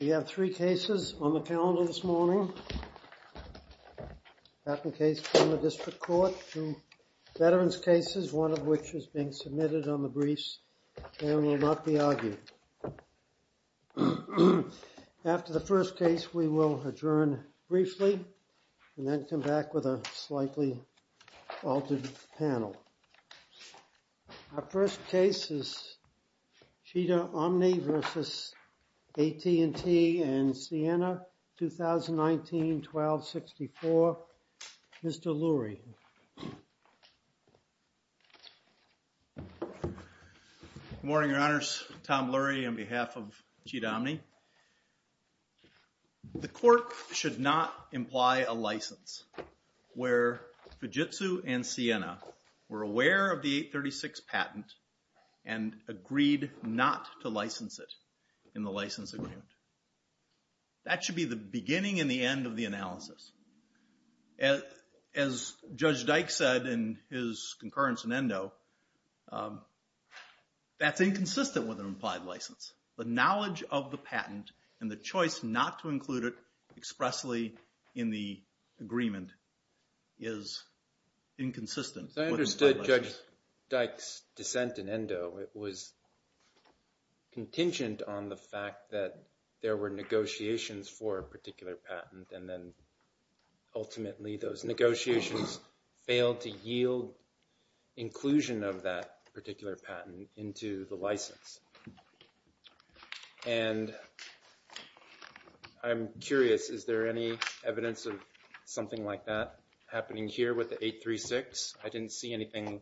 We have three cases on the calendar this morning, patent case from the district court, two veterans cases, one of which is being submitted on the briefs and will not be argued. After the first case, we will adjourn briefly and then come back with a slightly altered panel. Our first case is Cheetah Omni v. AT&T and Siena, 2019-12-64. Mr. Lurie. Good morning, Your Honors. Tom Lurie on behalf of Cheetah Omni. The court should not imply a license where Fujitsu and Siena were aware of the 836 patent and agreed not to license it in the license agreement. That should be the beginning and the end of the analysis. As Judge Dyke said in his concurrence in Endo, that's inconsistent with an implied license. The knowledge of the patent and the choice not to include it expressly in the agreement is inconsistent with an implied license. As I understood Judge Dyke's dissent in Endo, it was contingent on the fact that there were negotiations for a particular patent and then ultimately those negotiations failed to yield inclusion of that particular patent into the license. And I'm curious, is there any evidence of something like that happening here with the 836? I didn't see anything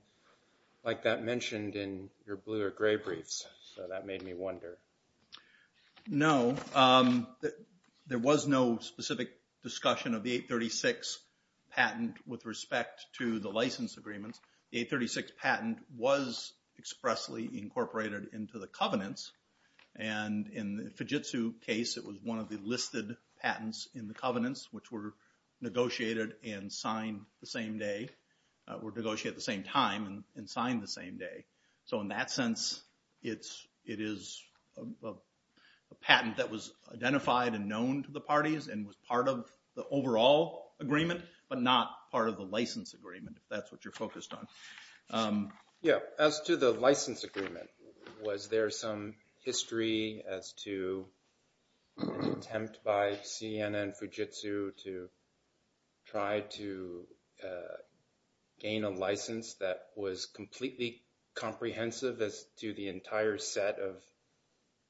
like that mentioned in your blue or gray briefs, so that made me wonder. No. There was no specific discussion of the 836 patent with respect to the license agreement. The 836 patent was expressly incorporated into the covenants and in the Fujitsu case, it was one of the listed patents in the covenants, which were negotiated and signed the same day. Or negotiated at the same time and signed the same day. So in that sense, it is a patent that was identified and known to the parties and was part of the overall agreement, but not part of the license agreement, if that's what you're focused on. Yeah, as to the license agreement, was there some history as to an attempt by CNN Fujitsu to try to gain a license that was completely comprehensive as to the entire set of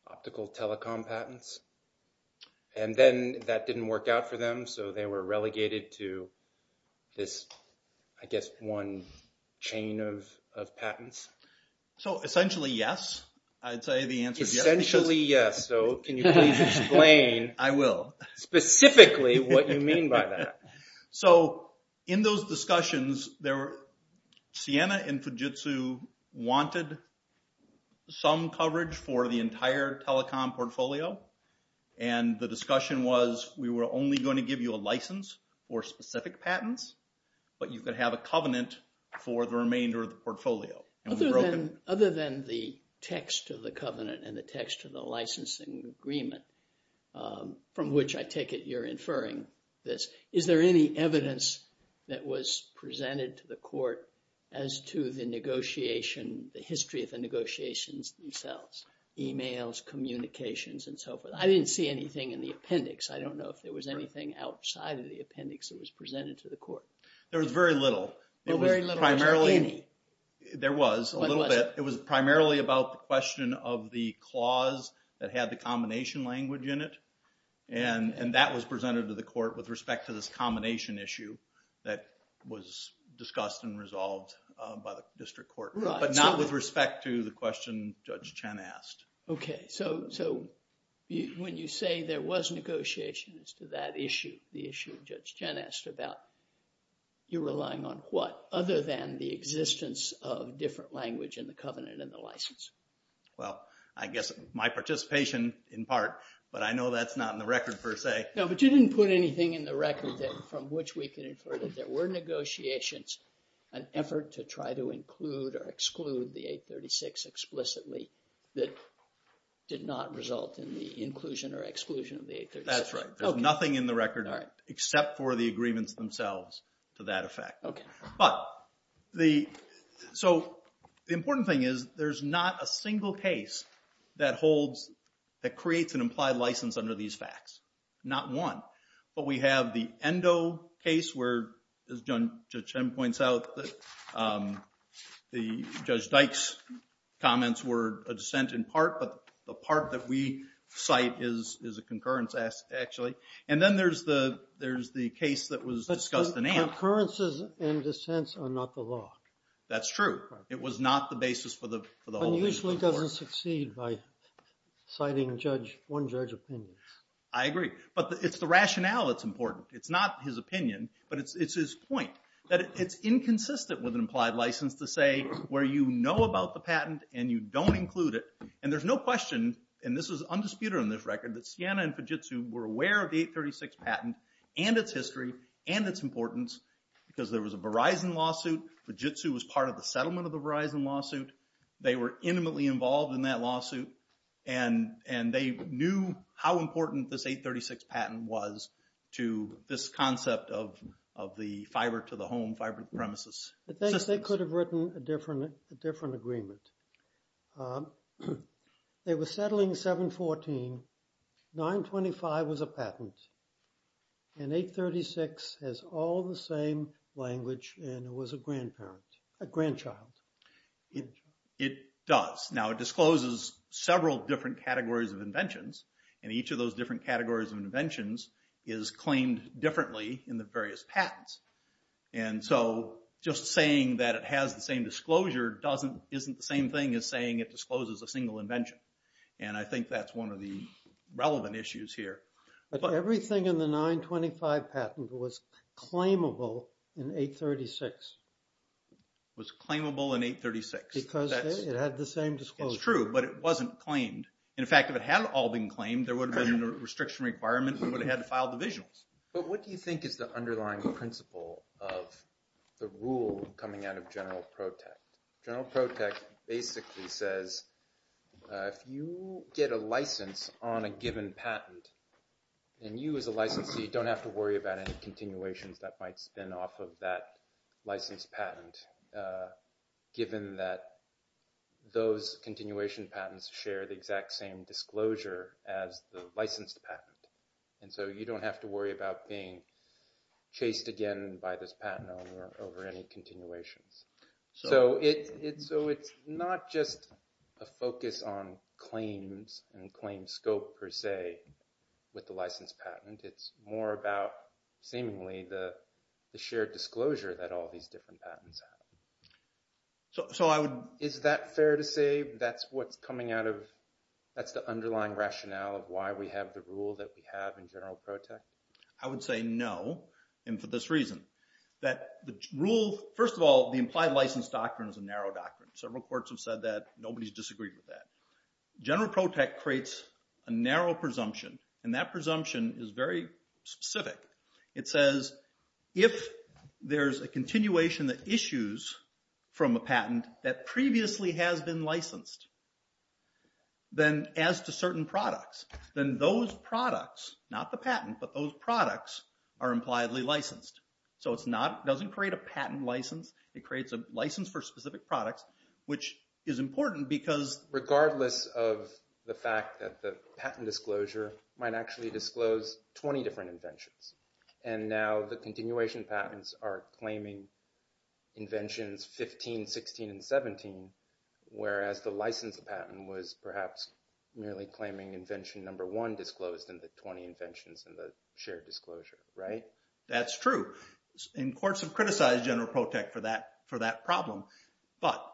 optical telecom patents? And then that didn't work out for them, so they were relegated to this, I guess, one chain of patents. So essentially, yes. I'd say the answer is yes. Essentially, yes. So can you please explain? I will. Specifically, what you mean by that? So in those discussions, CNN and Fujitsu wanted some coverage for the entire telecom portfolio. And the discussion was, we were only going to give you a license for specific patents, but you could have a covenant for the remainder of the portfolio. Other than the text of the covenant and the text of the licensing agreement, from which I take it you're inferring this. Is there any evidence that was presented to the court as to the negotiation, the history of the negotiations themselves? Emails, communications, and so forth? I didn't see anything in the appendix. I don't know if there was anything outside of the appendix that was presented to the court. There was very little. There was very little, or was there any? There was a little bit. It was primarily about the question of the clause that had the combination language in it. And that was presented to the court with respect to this combination issue that was discussed and resolved by the district court. But not with respect to the question Judge Chen asked. Okay. So when you say there was negotiation as to that issue, the issue Judge Chen asked about, you're relying on what? Other than the existence of different language in the covenant and the license. Well, I guess my participation in part, but I know that's not in the record per se. No, but you didn't put anything in the record from which we can infer that there were negotiations, an effort to try to include or exclude the 836 explicitly that did not result in the inclusion or exclusion of the 836. That's right. There's nothing in the record except for the agreements themselves to that effect. But the important thing is there's not a single case that holds, that creates an implied license under these facts. Not one. But we have the Endo case where, as Judge Chen points out, the Judge Dyke's comments were a dissent in part, but the part that we cite is a concurrence actually. Concurrences and dissents are not the law. That's true. It was not the basis for the whole. It usually doesn't succeed by citing one judge's opinion. I agree. But it's the rationale that's important. It's not his opinion, but it's his point that it's inconsistent with an implied license to say where you know about the patent and you don't include it. And there's no question, and this is undisputed on this record, that Sienna and Fujitsu were aware of the 836 patent and its history and its importance because there was a Verizon lawsuit. Fujitsu was part of the settlement of the Verizon lawsuit. They were intimately involved in that lawsuit. And they knew how important this 836 patent was to this concept of the fiber to the home, fiber to the premises. I think they could have written a different agreement. They were settling 714. 925 was a patent. And 836 has all the same language and it was a grandparent, a grandchild. It does. Now it discloses several different categories of inventions. And each of those different categories of inventions is claimed differently in the various patents. And so just saying that it has the same disclosure doesn't, isn't the same thing as saying it discloses a single invention. And I think that's one of the relevant issues here. But everything in the 925 patent was claimable in 836. It was claimable in 836. Because it had the same disclosure. It's true, but it wasn't claimed. In fact, if it had all been claimed, there would have been a restriction requirement. We would have had to file divisionals. But what do you think is the underlying principle of the rule coming out of General Protect? General Protect basically says, if you get a license on a given patent, then you as a licensee don't have to worry about any continuations that might spin off of that licensed patent, given that those continuation patents share the exact same disclosure as the licensed patent. And so you don't have to worry about being chased again by this patent owner over any continuations. So it's not just a focus on claims and claim scope per se with the licensed patent. It's more about seemingly the shared disclosure that all these different patents have. Is that fair to say that's what's coming out of, that's the underlying rationale of why we have the rule that we have in General Protect? I would say no. And for this reason, that the rule, first of all, the implied license doctrine is a narrow doctrine. Several courts have said that. Nobody's disagreed with that. General Protect creates a narrow presumption. And that presumption is very specific. It says, if there's a continuation that issues from a patent that previously has been licensed, then as to certain products, then those products, not the patent, but those products are impliedly licensed. So it's not, doesn't create a patent license. It creates a license for specific products, which is important because- Regardless of the fact that the patent disclosure might actually disclose 20 different inventions. And now the continuation patents are claiming inventions 15, 16, and 17, whereas the licensed patent was perhaps merely claiming invention number one disclosed in the 20 inventions in the shared disclosure, right? That's true. And courts have criticized General Protect for that problem. But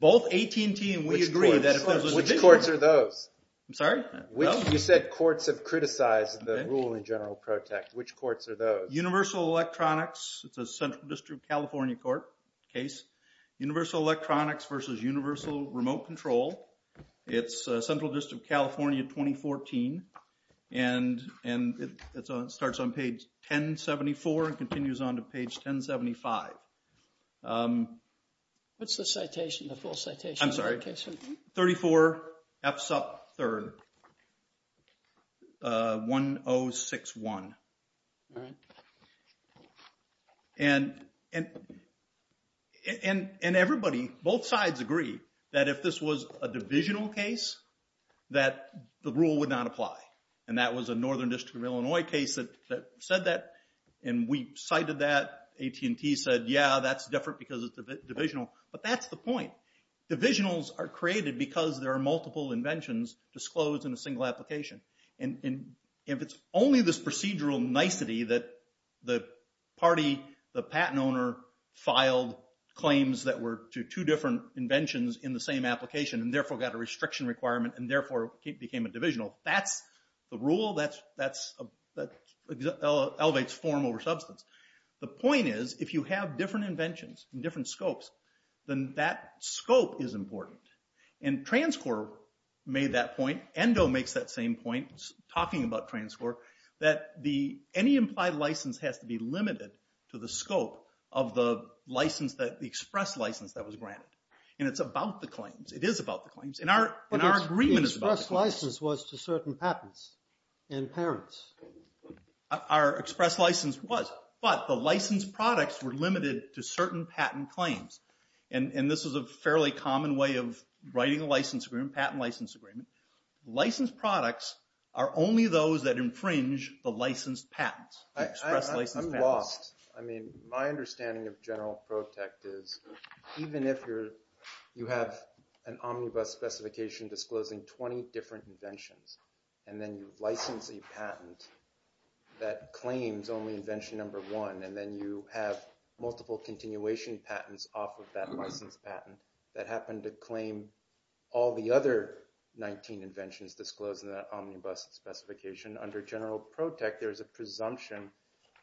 both AT&T and we agree that- Which courts are those? I'm sorry? You said courts have criticized the rule in General Protect. Which courts are those? Universal Electronics. It's a Central District California court case. Universal Electronics versus Universal Remote Control. It's Central District California 2014. And it starts on page 1074 and continues on to page 1075. What's the citation, the full citation? I'm sorry? Citation? 34F sub 3rd, 1061. All right. And everybody, both sides agree that if this was a divisional case that the rule would not apply. And that was a Northern District of Illinois case that said that. And we cited that. AT&T said, yeah, that's different because it's divisional. But that's the point. Divisionals are created because there are multiple inventions disclosed in a single application. And if it's only this procedural nicety that the party, the patent owner filed claims that were to two different inventions in the same application and therefore got a restriction requirement and therefore became a divisional, that's the rule that elevates form over substance. The point is, if you have different inventions and different scopes, then that scope is important. And Transcor made that point. ENDO makes that same point, talking about Transcor, that any implied license has to be limited to the scope of the express license that was granted. And it's about the claims. It is about the claims. And our agreement is about the claims. But the express license was to certain patents and parents. Our express license was. But the licensed products were limited to certain patent claims. And this is a fairly common way of writing a license agreement, patent license agreement. Licensed products are only those that infringe the licensed patents. I'm lost. I mean, my understanding of general protect is even if you have an omnibus specification disclosing 20 different inventions, and then you license a patent that claims only invention number one, and then you have multiple continuation patents off of that license patent that happened to claim all the other 19 inventions disclosed in that omnibus specification, under general protect, there is a presumption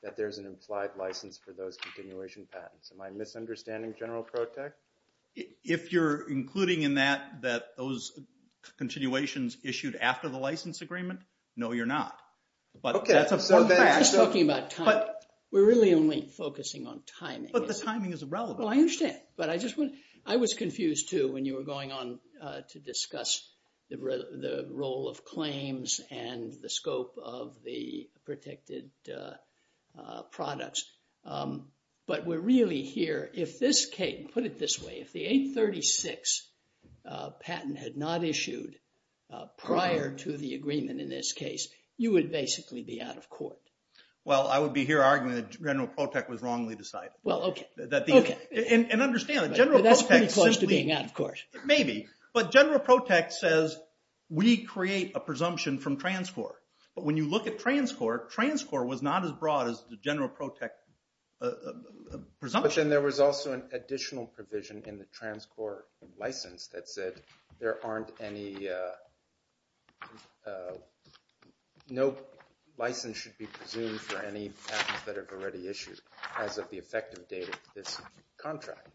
that there's an implied license for those continuation patents. Am I misunderstanding general protect? If you're including in that, that those continuations issued after the license agreement, no, you're not. But that's a fact. I'm just talking about timing. We're really only focusing on timing. But the timing is irrelevant. Well, I understand. But I just want, I was confused too when you were going on to discuss the role of claims and the scope of the protected products. But we're really here, if this came, put it this way, if the 836 patent had not issued prior to the agreement in this case, you would basically be out of court. Well, I would be here arguing that general protect was wrongly decided. Well, okay. That the, Okay. And understand that general protect simply, Well, that's pretty close to being out of court. Maybe. we create a presumption from transcore. But when you look at transcore, transcore was not as broad as the general protect presumption. And there was also an additional provision in the transcore license that said there aren't any, no license should be presumed for any patents that have already issued as of the effective date of this contract.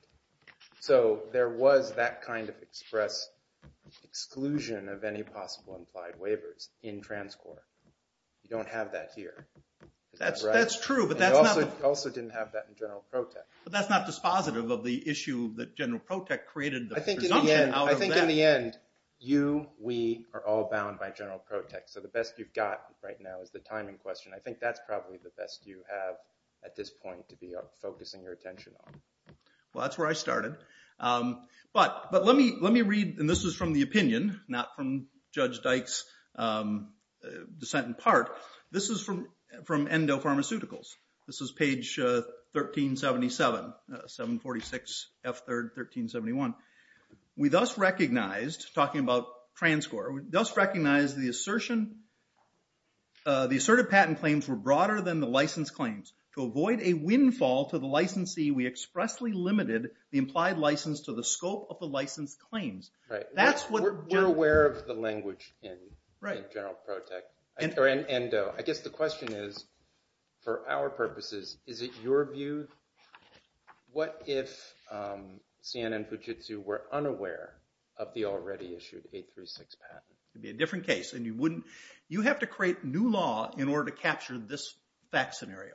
So there was that kind of express exclusion of any possible implied waivers in transcore. You don't have that here. That's true. But that's not. Also didn't have that in general protect. But that's not dispositive of the issue that general protect created. I think in the end, you, we are all bound by general protect. So the best you've got right now is the timing question. I think that's probably the best you have at this point to be focusing your attention on. Well, that's where I started. But let me read, and this is from the opinion, not from Judge Dyke's dissent in part. This is from Endo Pharmaceuticals. This is page 1377, 746, F3rd, 1371. We thus recognized, talking about transcore, we thus recognize the assertion, the assertive patent claims were broader than the license claims. To avoid a windfall to the licensee, we expressly limited the implied license to the scope of the license claims. Right. That's what. We're aware of the language in general protect. And I guess the question is, for our purposes, is it your view? What if CNN and Fujitsu were unaware of the already issued 836 patent? It'd be a different case, and you wouldn't, you have to create new law in order to capture this fact scenario.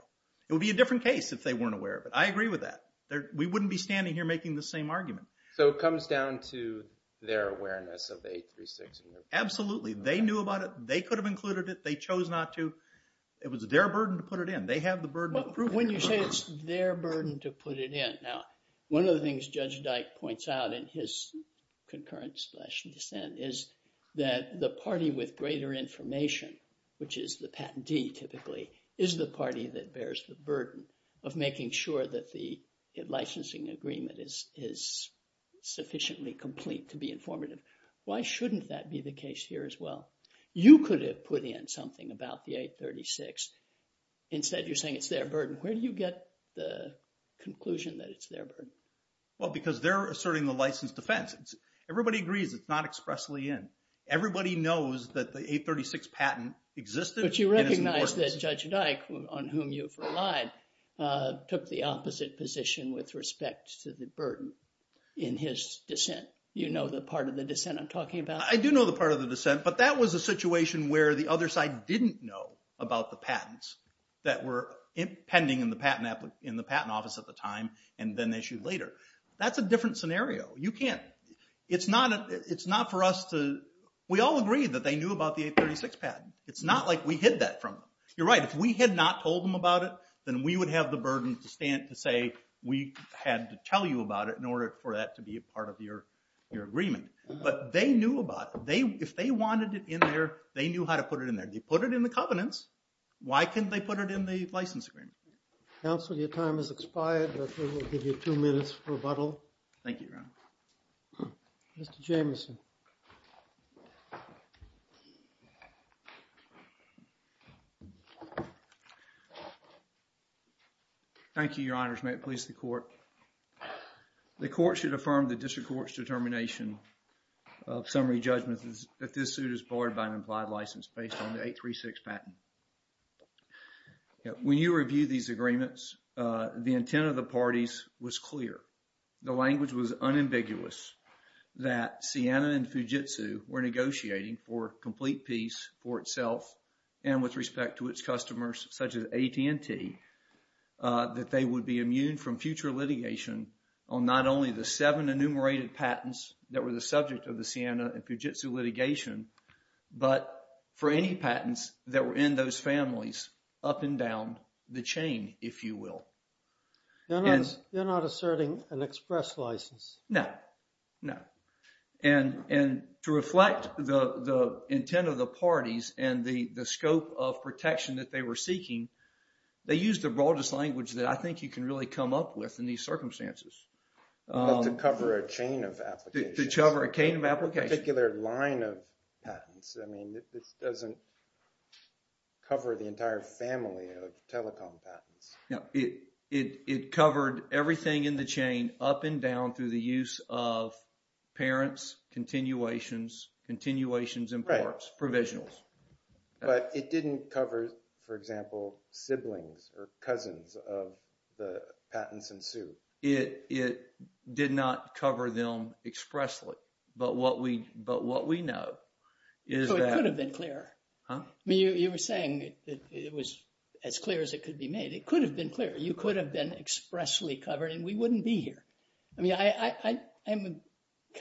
It would be a different case if they weren't aware of it. I agree with that. We wouldn't be standing here making the same argument. So it comes down to their awareness of the 836. Absolutely. They knew about it. They could have included it. They chose not to. It was their burden to put it in. They have the burden. When you say it's their burden to put it in. Now, one of the things Judge Dyke points out in his concurrence slash dissent is that the party with greater information, which is the patentee typically, is the party that bears the burden of making sure that the licensing agreement is sufficiently complete to be informative. Why shouldn't that be the case here as well? You could have put in something about the 836. Instead, you're saying it's their burden. Where do you get the conclusion that it's their burden? Well, because they're asserting the licensed defense. Everybody agrees it's not expressly in. Everybody knows that the 836 patent existed. But you recognize that Judge Dyke, on whom you've relied, took the opposite position with respect to the burden in his dissent. You know the part of the dissent I'm talking about? I do know the part of the dissent, but that was a situation where the other side didn't know about the patents that were pending in the patent office at the time and then issued later. That's a different scenario. You can't. We all agree that they knew about the 836 patent. It's not like we hid that from them. You're right. If we had not told them about it, then we would have the burden to stand to say we had to tell you about it in order for that to be a part of your agreement. But they knew about it. If they wanted it in there, they knew how to put it in there. They put it in the covenants. Why can't they put it in the license agreement? Counsel, your time has expired. I think we'll give you two minutes for rebuttal. Thank you, Your Honor. Mr. Jamieson. Thank you, Your Honors. May it please the court. The court should affirm the district court's determination of summary judgment that this suit is barred by an implied license based on the 836 patent. When you review these agreements, the intent of the parties was clear. The language was unambiguous that Ciena and Fujitsu were negotiating for complete peace for itself and with respect to its customers, such as AT&T, that they would be immune from future litigation on not only the seven enumerated patents that were the subject of the Ciena and Fujitsu litigation, but for any patents that were in those families up and down the chain, if you will. You're not asserting an express license. No, no. And to reflect the intent of the parties and the scope of protection that they were seeking, they used the broadest language that I think you can really come up with in these circumstances. Well, to cover a chain of applications. To cover a chain of applications. Particular line of patents. I mean, this doesn't cover the entire family of telecom patents. No, it covered everything in the chain up and down through the use of parents, continuations, continuations, imports, provisionals. But it didn't cover, for example, siblings or cousins of the patents in suit. It did not cover them expressly. But what we know is that... It could have been clearer. I mean, you were saying that it was as clear as it could be made. It could have been clearer. You could have been expressly covered and we wouldn't be here. I mean, I'm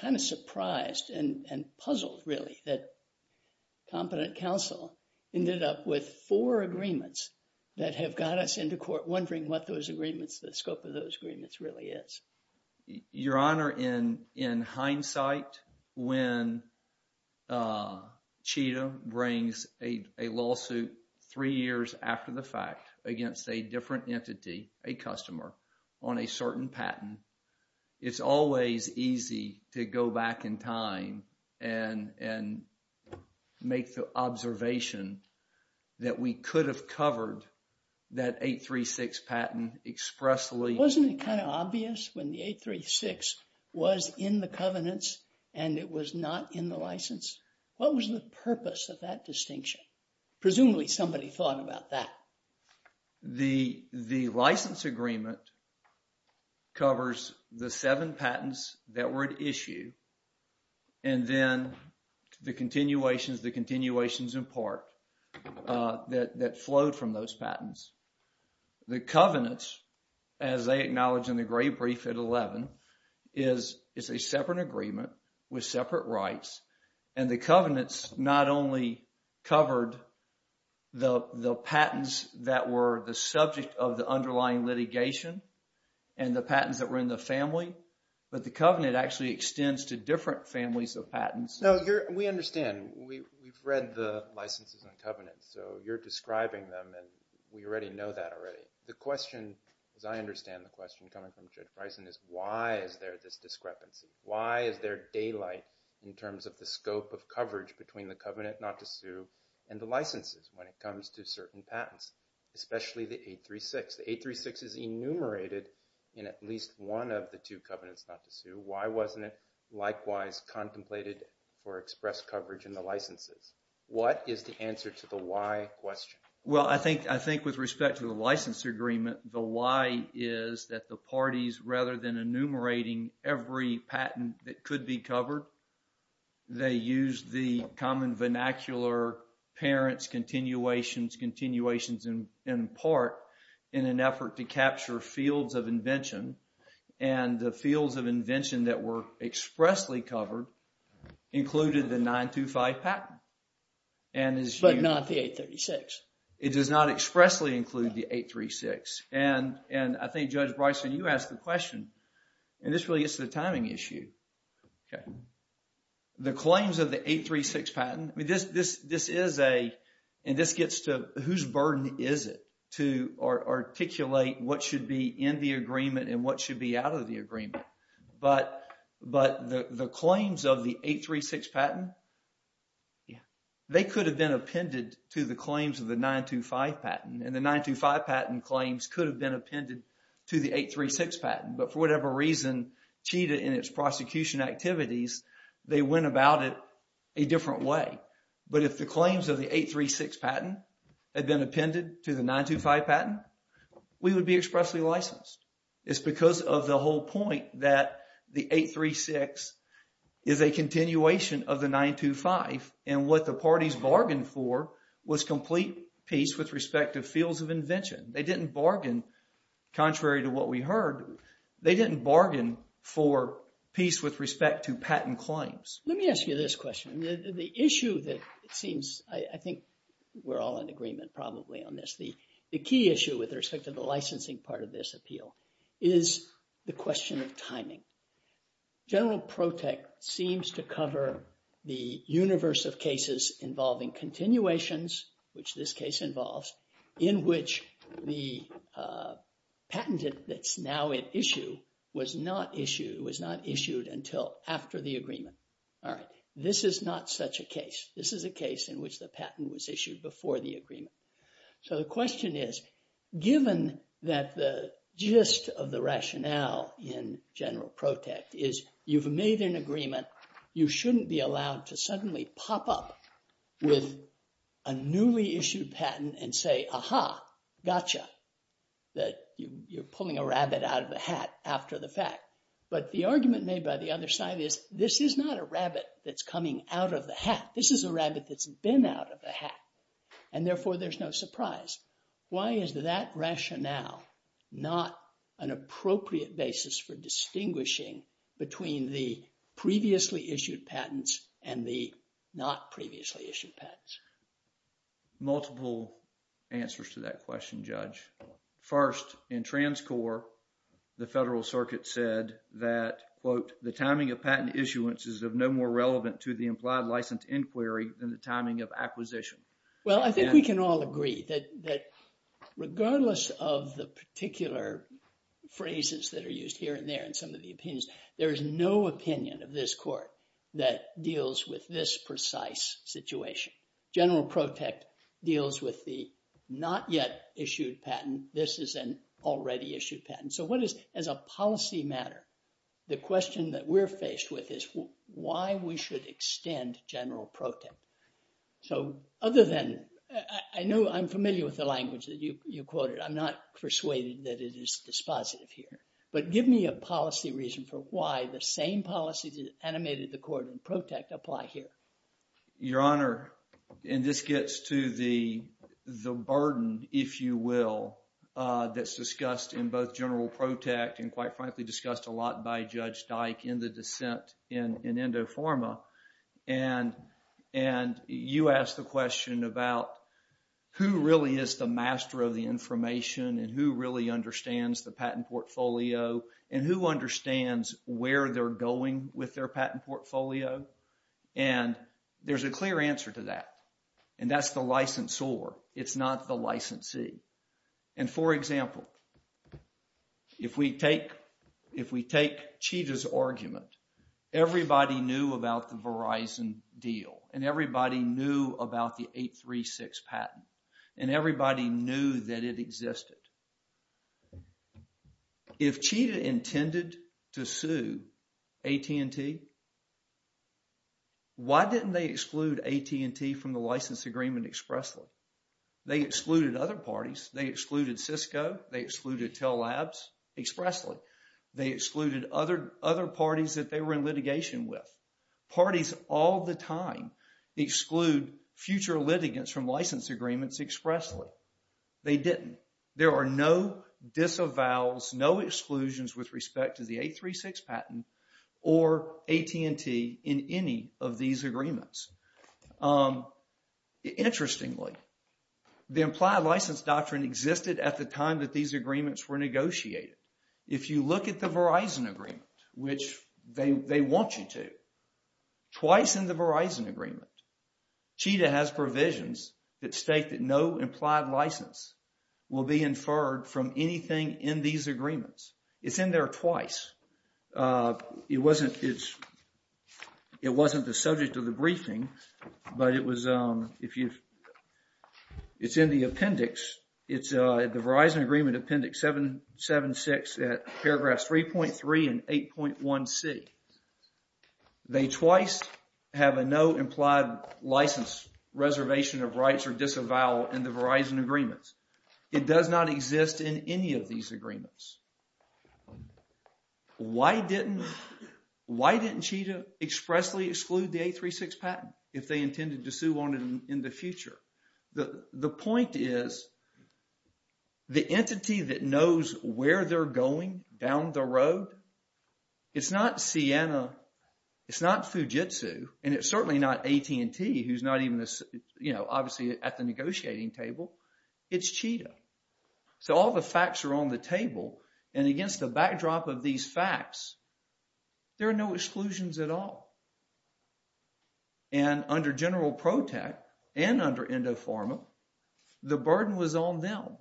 kind of surprised and puzzled, really, that competent counsel ended up with four agreements that have got us into court wondering what those agreements, the scope of those agreements, really is. Your Honor, in hindsight, when Chita brings a lawsuit three years after the fact against a different entity, a customer, on a certain patent, it's always easy to go back in time and make the observation that we could have covered that 836 patent expressly. Wasn't it kind of obvious when the 836 was in the covenants and it was not in the license? What was the purpose of that distinction? Presumably somebody thought about that. The license agreement covers the seven patents that were at issue and then the continuations, the continuations in part, that flowed from those patents. The covenants, as they acknowledge in the great brief at 11, is a separate agreement with separate rights and the covenants not only covered the patents that were the subject of the underlying litigation and the patents that were in the family, but the covenant actually extends to different families of patents. No, we understand. We've read the licenses and covenants, so you're describing them and we already know that already. The question, as I understand the question coming from Judge Bryson, is why is there this discrepancy? Why is there daylight in terms of the scope of coverage between the covenant not to sue and the licenses when it comes to certain patents, especially the 836? The 836 is enumerated in at least one of the two covenants not to sue. Why wasn't it likewise contemplated for express coverage in the licenses? What is the answer to the why question? Well, I think with respect to the license agreement, the why is that the parties, rather than enumerating every patent that could be covered, they use the common vernacular, parents, continuations, continuations in part in an effort to capture fields of invention and the fields of invention that were expressly covered included the 925 patent. But not the 836. It does not expressly include the 836. And I think, Judge Bryson, you asked the question, and this really is the timing issue. The claims of the 836 patent, I mean, this is a, and this gets to whose burden is it to articulate what should be in the agreement and what should be out of the agreement. But the claims of the 836 patent, they could have been appended to the claims of the 925 patent. And the 925 patent claims could have been appended to the 836 patent. But for whatever reason, CHITA in its prosecution activities, they went about it a different way. But if the claims of the 836 patent had been appended to the 925 patent, we would be expressly licensed. It's because of the whole point that the 836 is a continuation of the 925. And what the parties bargained for was complete peace with respect to fields of invention. They didn't bargain, contrary to what we heard. They didn't bargain for peace with respect to patent claims. Let me ask you this question. The issue that it seems, I think we're all in agreement, probably, on this. The key issue with respect to the licensing part of this appeal is the question of timing. General Protech seems to cover the universe of cases involving continuations, which this case involves, in which the patent that's now at issue was not issued until after the agreement. All right. This is not such a case. This is a case in which the patent was issued before the agreement. So the question is, given that the gist of the rationale in General Protech is you've made an agreement, you shouldn't be allowed to suddenly pop up with a newly issued patent and say, aha, gotcha, that you're pulling a rabbit out of the hat after the fact. But the argument made by the other side is, this is not a rabbit that's coming out of the hat. This is a rabbit that's been out of the hat. And therefore, there's no surprise. Why is that rationale not an appropriate basis for distinguishing between the previously issued patents and the not previously issued patents? Multiple answers to that question, Judge. First, in TransCore, the Federal Circuit said that, quote, the timing of patent issuances is no more relevant to the implied license inquiry than the timing of acquisition. Well, I think we can all agree that regardless of the particular phrases that are used here and there in some of the opinions, there is no opinion of this court that deals with this precise situation. General Protech deals with the not yet issued patent. This is an already issued patent. So what is, as a policy matter, the question that we're faced with is why we should extend General Protech? So other than, I know I'm familiar with the language that you quoted. I'm not persuaded that it is dispositive here. But give me a policy reason for why the same policy that animated the court in Protech apply here. Your Honor, and this gets to the burden, if you will, that's discussed in both General Protech by Judge Dyke in the dissent in Endoforma. And you asked the question about who really is the master of the information and who really understands the patent portfolio and who understands where they're going with their patent portfolio. And there's a clear answer to that. And that's the licensor. It's not the licensee. And for example, if we take Cheetah's argument, everybody knew about the Verizon deal and everybody knew about the 836 patent and everybody knew that it existed. If Cheetah intended to sue AT&T, why didn't they exclude AT&T from the license agreement expressly? They excluded other parties. They excluded Cisco. They excluded Tell Labs expressly. They excluded other parties that they were in litigation with. Parties all the time exclude future litigants from license agreements expressly. They didn't. There are no disavows, no exclusions with respect to the 836 patent or AT&T in any of these agreements. Interestingly, the implied license doctrine existed at the time that these agreements were negotiated. If you look at the Verizon agreement, which they want you to, twice in the Verizon agreement, Cheetah has provisions that state that no implied license will be inferred from anything in these agreements. It's in there twice. It wasn't the subject of the briefing, but it was, it's in the appendix. It's the Verizon agreement appendix 776 at paragraphs 3.3 and 8.1c. They twice have a no implied license reservation of rights or disavow in the Verizon agreements. It does not exist in any of these agreements. Why didn't, why didn't Cheetah expressly exclude the 836 patent if they intended to sue on it in the future? The point is, the entity that knows where they're going down the road, it's not Siena, it's not Fujitsu, and it's certainly not AT&T, who's not even, you know, obviously at the negotiating table. It's Cheetah. So all the facts are on the table, and against the backdrop of these facts, there are no exclusions at all. And under General Protect and under Indofarma, the burden was on them.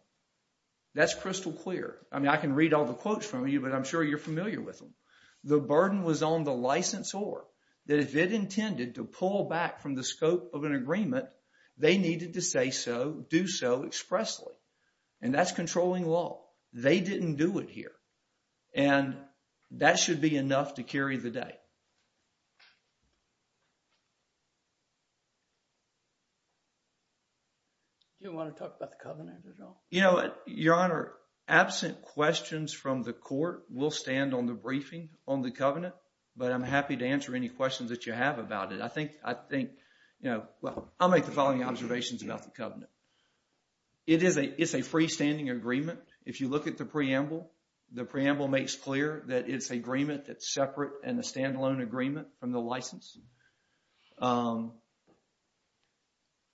That's crystal clear. I mean, I can read all the quotes from you, but I'm sure you're familiar with them. The burden was on the licensor that if it intended to pull back from the scope of an agreement, they needed to say so, do so expressly. And that's controlling law. They didn't do it here. And that should be enough to carry the day. Do you want to talk about the covenant at all? You know, Your Honor, absent questions from the court will stand on the briefing on the covenant, but I'm happy to answer any questions that you have about it. I think, you know, well, I'll make the following observations about the covenant. It is a freestanding agreement. If you look at the preamble, the preamble makes clear that it's an agreement that's separate and a standalone agreement from the license.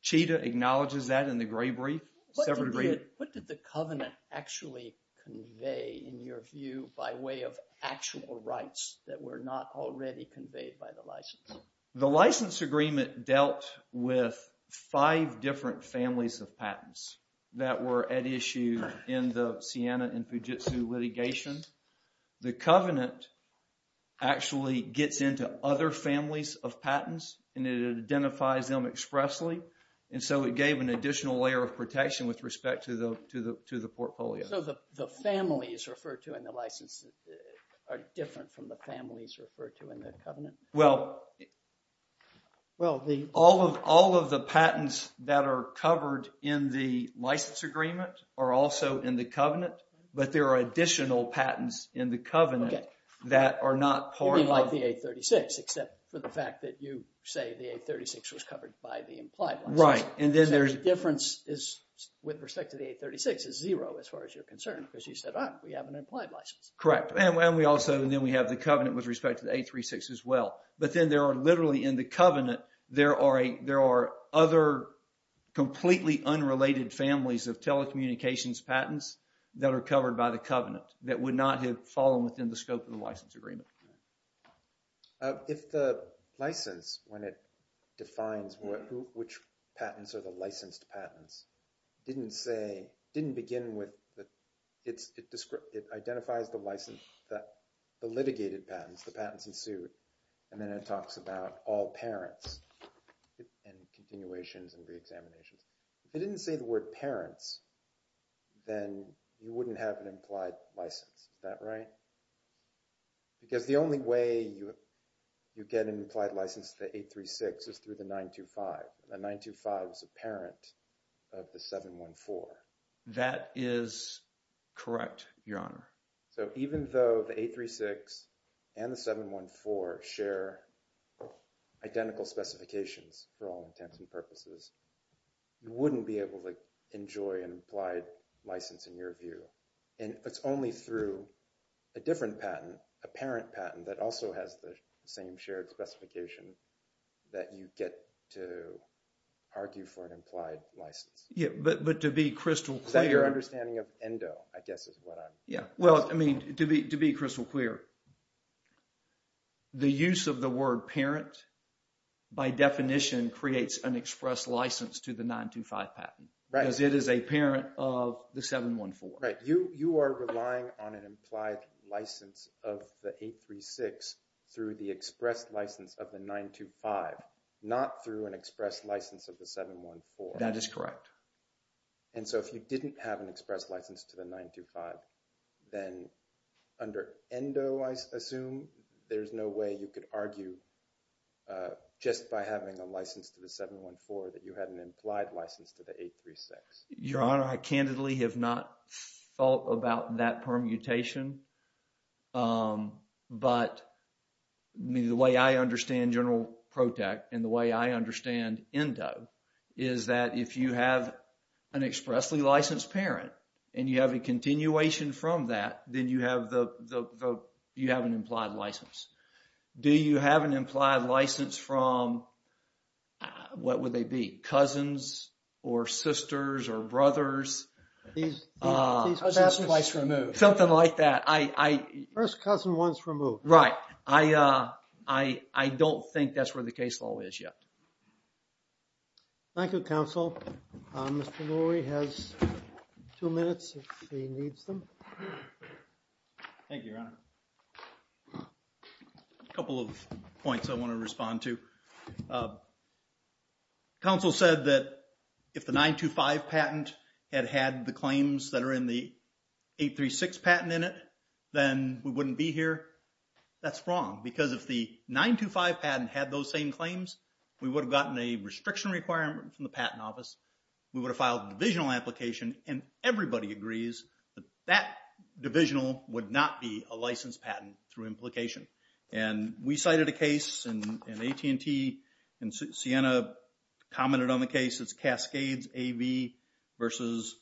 Cheetah acknowledges that in the gray brief. What did the covenant actually convey in your view by way of actual rights that were not already conveyed by the license? The license agreement dealt with five different families of patents that were at issue in the Siena and Fujitsu litigation. The covenant actually gets into other families of patents and it identifies them expressly. And so it gave an additional layer of protection with respect to the portfolio. So the families referred to in the license are different from the families referred to in the covenant? Well, all of the patents that are covered in the license agreement are also in the covenant, but there are additional patents in the covenant that are not part of... You mean like the 836, except for the fact that you say the 836 was covered by the implied license. Right. So the difference is with respect to the 836 is zero as far as you're concerned, because you said, oh, we have an implied license. Correct. And then we have the covenant with respect to the 836 as well. But then there are literally in the covenant, there are other completely unrelated families of telecommunications patents that are covered by the covenant that would not have fallen within the scope of the license agreement. If the license, when it defines which patents are the licensed patents, didn't say, didn't begin with... It identifies the license, that the litigated patents, the patents ensued, and then it talks about all parents and continuations and re-examinations. If it didn't say the word parents, then you wouldn't have an implied license. Is that right? Because the only way you get an implied license to the 836 is through the 925. The 925 is a parent of the 714. That is correct, Your Honor. So even though the 836 and the 714 share identical specifications for all intents and purposes, you wouldn't be able to enjoy an implied license in your view. And it's only through a different patent, a parent patent that also has the same shared specification that you get to argue for an implied license. Yeah, but to be crystal clear... Is that your understanding of endo, I guess is what I'm... Yeah, well, I mean, to be crystal clear, the use of the word parent by definition creates an express license to the 925 patent. Right. Because it is a parent of the 714. Right, you are relying on an implied license of the 836 through the express license of the 925, not through an express license of the 714. That is correct. And so if you didn't have an express license to the 925, then under endo, I assume, there's no way you could argue just by having a license to the 714 that you had an implied license to the 836. Your Honor, I candidly have not thought about that permutation. But, I mean, the way I understand general protect and the way I understand endo is that if you have an expressly licensed parent and you have a continuation from that, then you have an implied license. Do you have an implied license from, what would they be? Cousins or sisters or brothers? These cousins are twice removed. Something like that. First cousin once removed. Right. I don't think that's where the case law is yet. Thank you, Counsel. Mr. Lurie has two minutes if he needs them. Thank you, Your Honor. A couple of points I want to respond to. Counsel said that if the 925 patent had had the claims that are in the 836 patent in it, then we wouldn't be here. That's wrong. Because if the 925 patent had those same claims, we would have gotten a restriction requirement from the Patent Office. We would have filed a divisional application. And everybody agrees that that divisional would not be a licensed patent through implication. And we cited a case in AT&T. And Sienna commented on the case. It's Cascades AV versus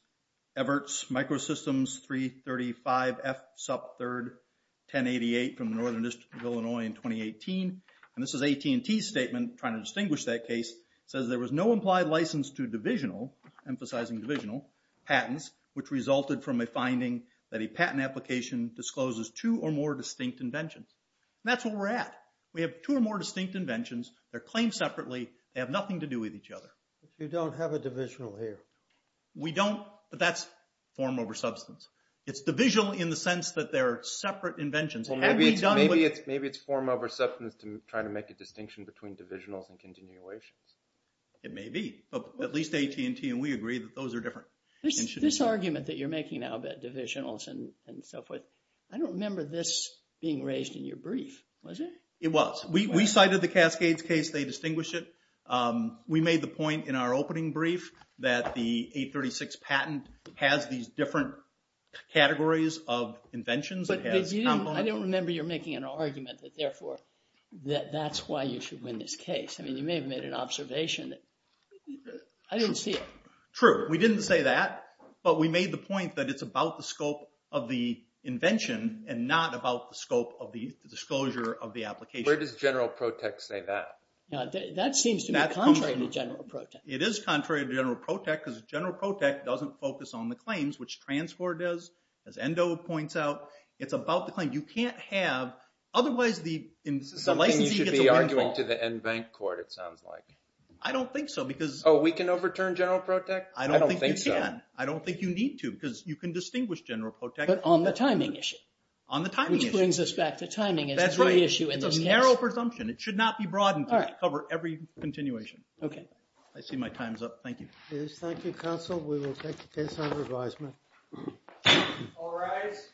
Everts Microsystems 335F sub third 1088 from the Northern District of Illinois in 2018. And this is AT&T's statement trying to distinguish that case. It says there was no implied license to divisional, emphasizing divisional, patents, which resulted from a finding that a patent application discloses two or more distinct inventions. And that's where we're at. We have two or more distinct inventions. They're claimed separately. They have nothing to do with each other. You don't have a divisional here. We don't, but that's form over substance. It's divisional in the sense that they're separate inventions. Well, maybe it's form over substance to try to make a distinction between divisionals and continuations. It may be, but at least AT&T and we agree that those are different. This argument that you're making now about divisionals and so forth, I don't remember this being raised in your brief, was it? It was. We cited the Cascades case. They distinguished it. We made the point in our opening brief that the 836 patent has these different categories of inventions. But I don't remember you're making an argument that therefore, that that's why you should win this case. I mean, you may have made an observation. I didn't see it. True. We didn't say that, but we made the point that it's about the scope of the invention and not about the scope of the disclosure of the application. Where does general protect say that? That seems to be contrary to general protect. It is contrary to general protect because general protect doesn't focus on the claims, which transport does, as Endo points out. It's about the claim. You can't have, otherwise the licensee gets a win. Something you should be arguing to the NBank court, it sounds like. I don't think so because. Oh, we can overturn general protect? I don't think so. I don't think you need to because you can distinguish general protect. But on the timing issue. On the timing issue. Which brings us back to timing is the issue in this case. That's right. It's a narrow presumption. It should not be broadened. Cover every continuation. OK. I see my time's up. Thank you. Thank you, counsel. We will take the case under advisement. All rise.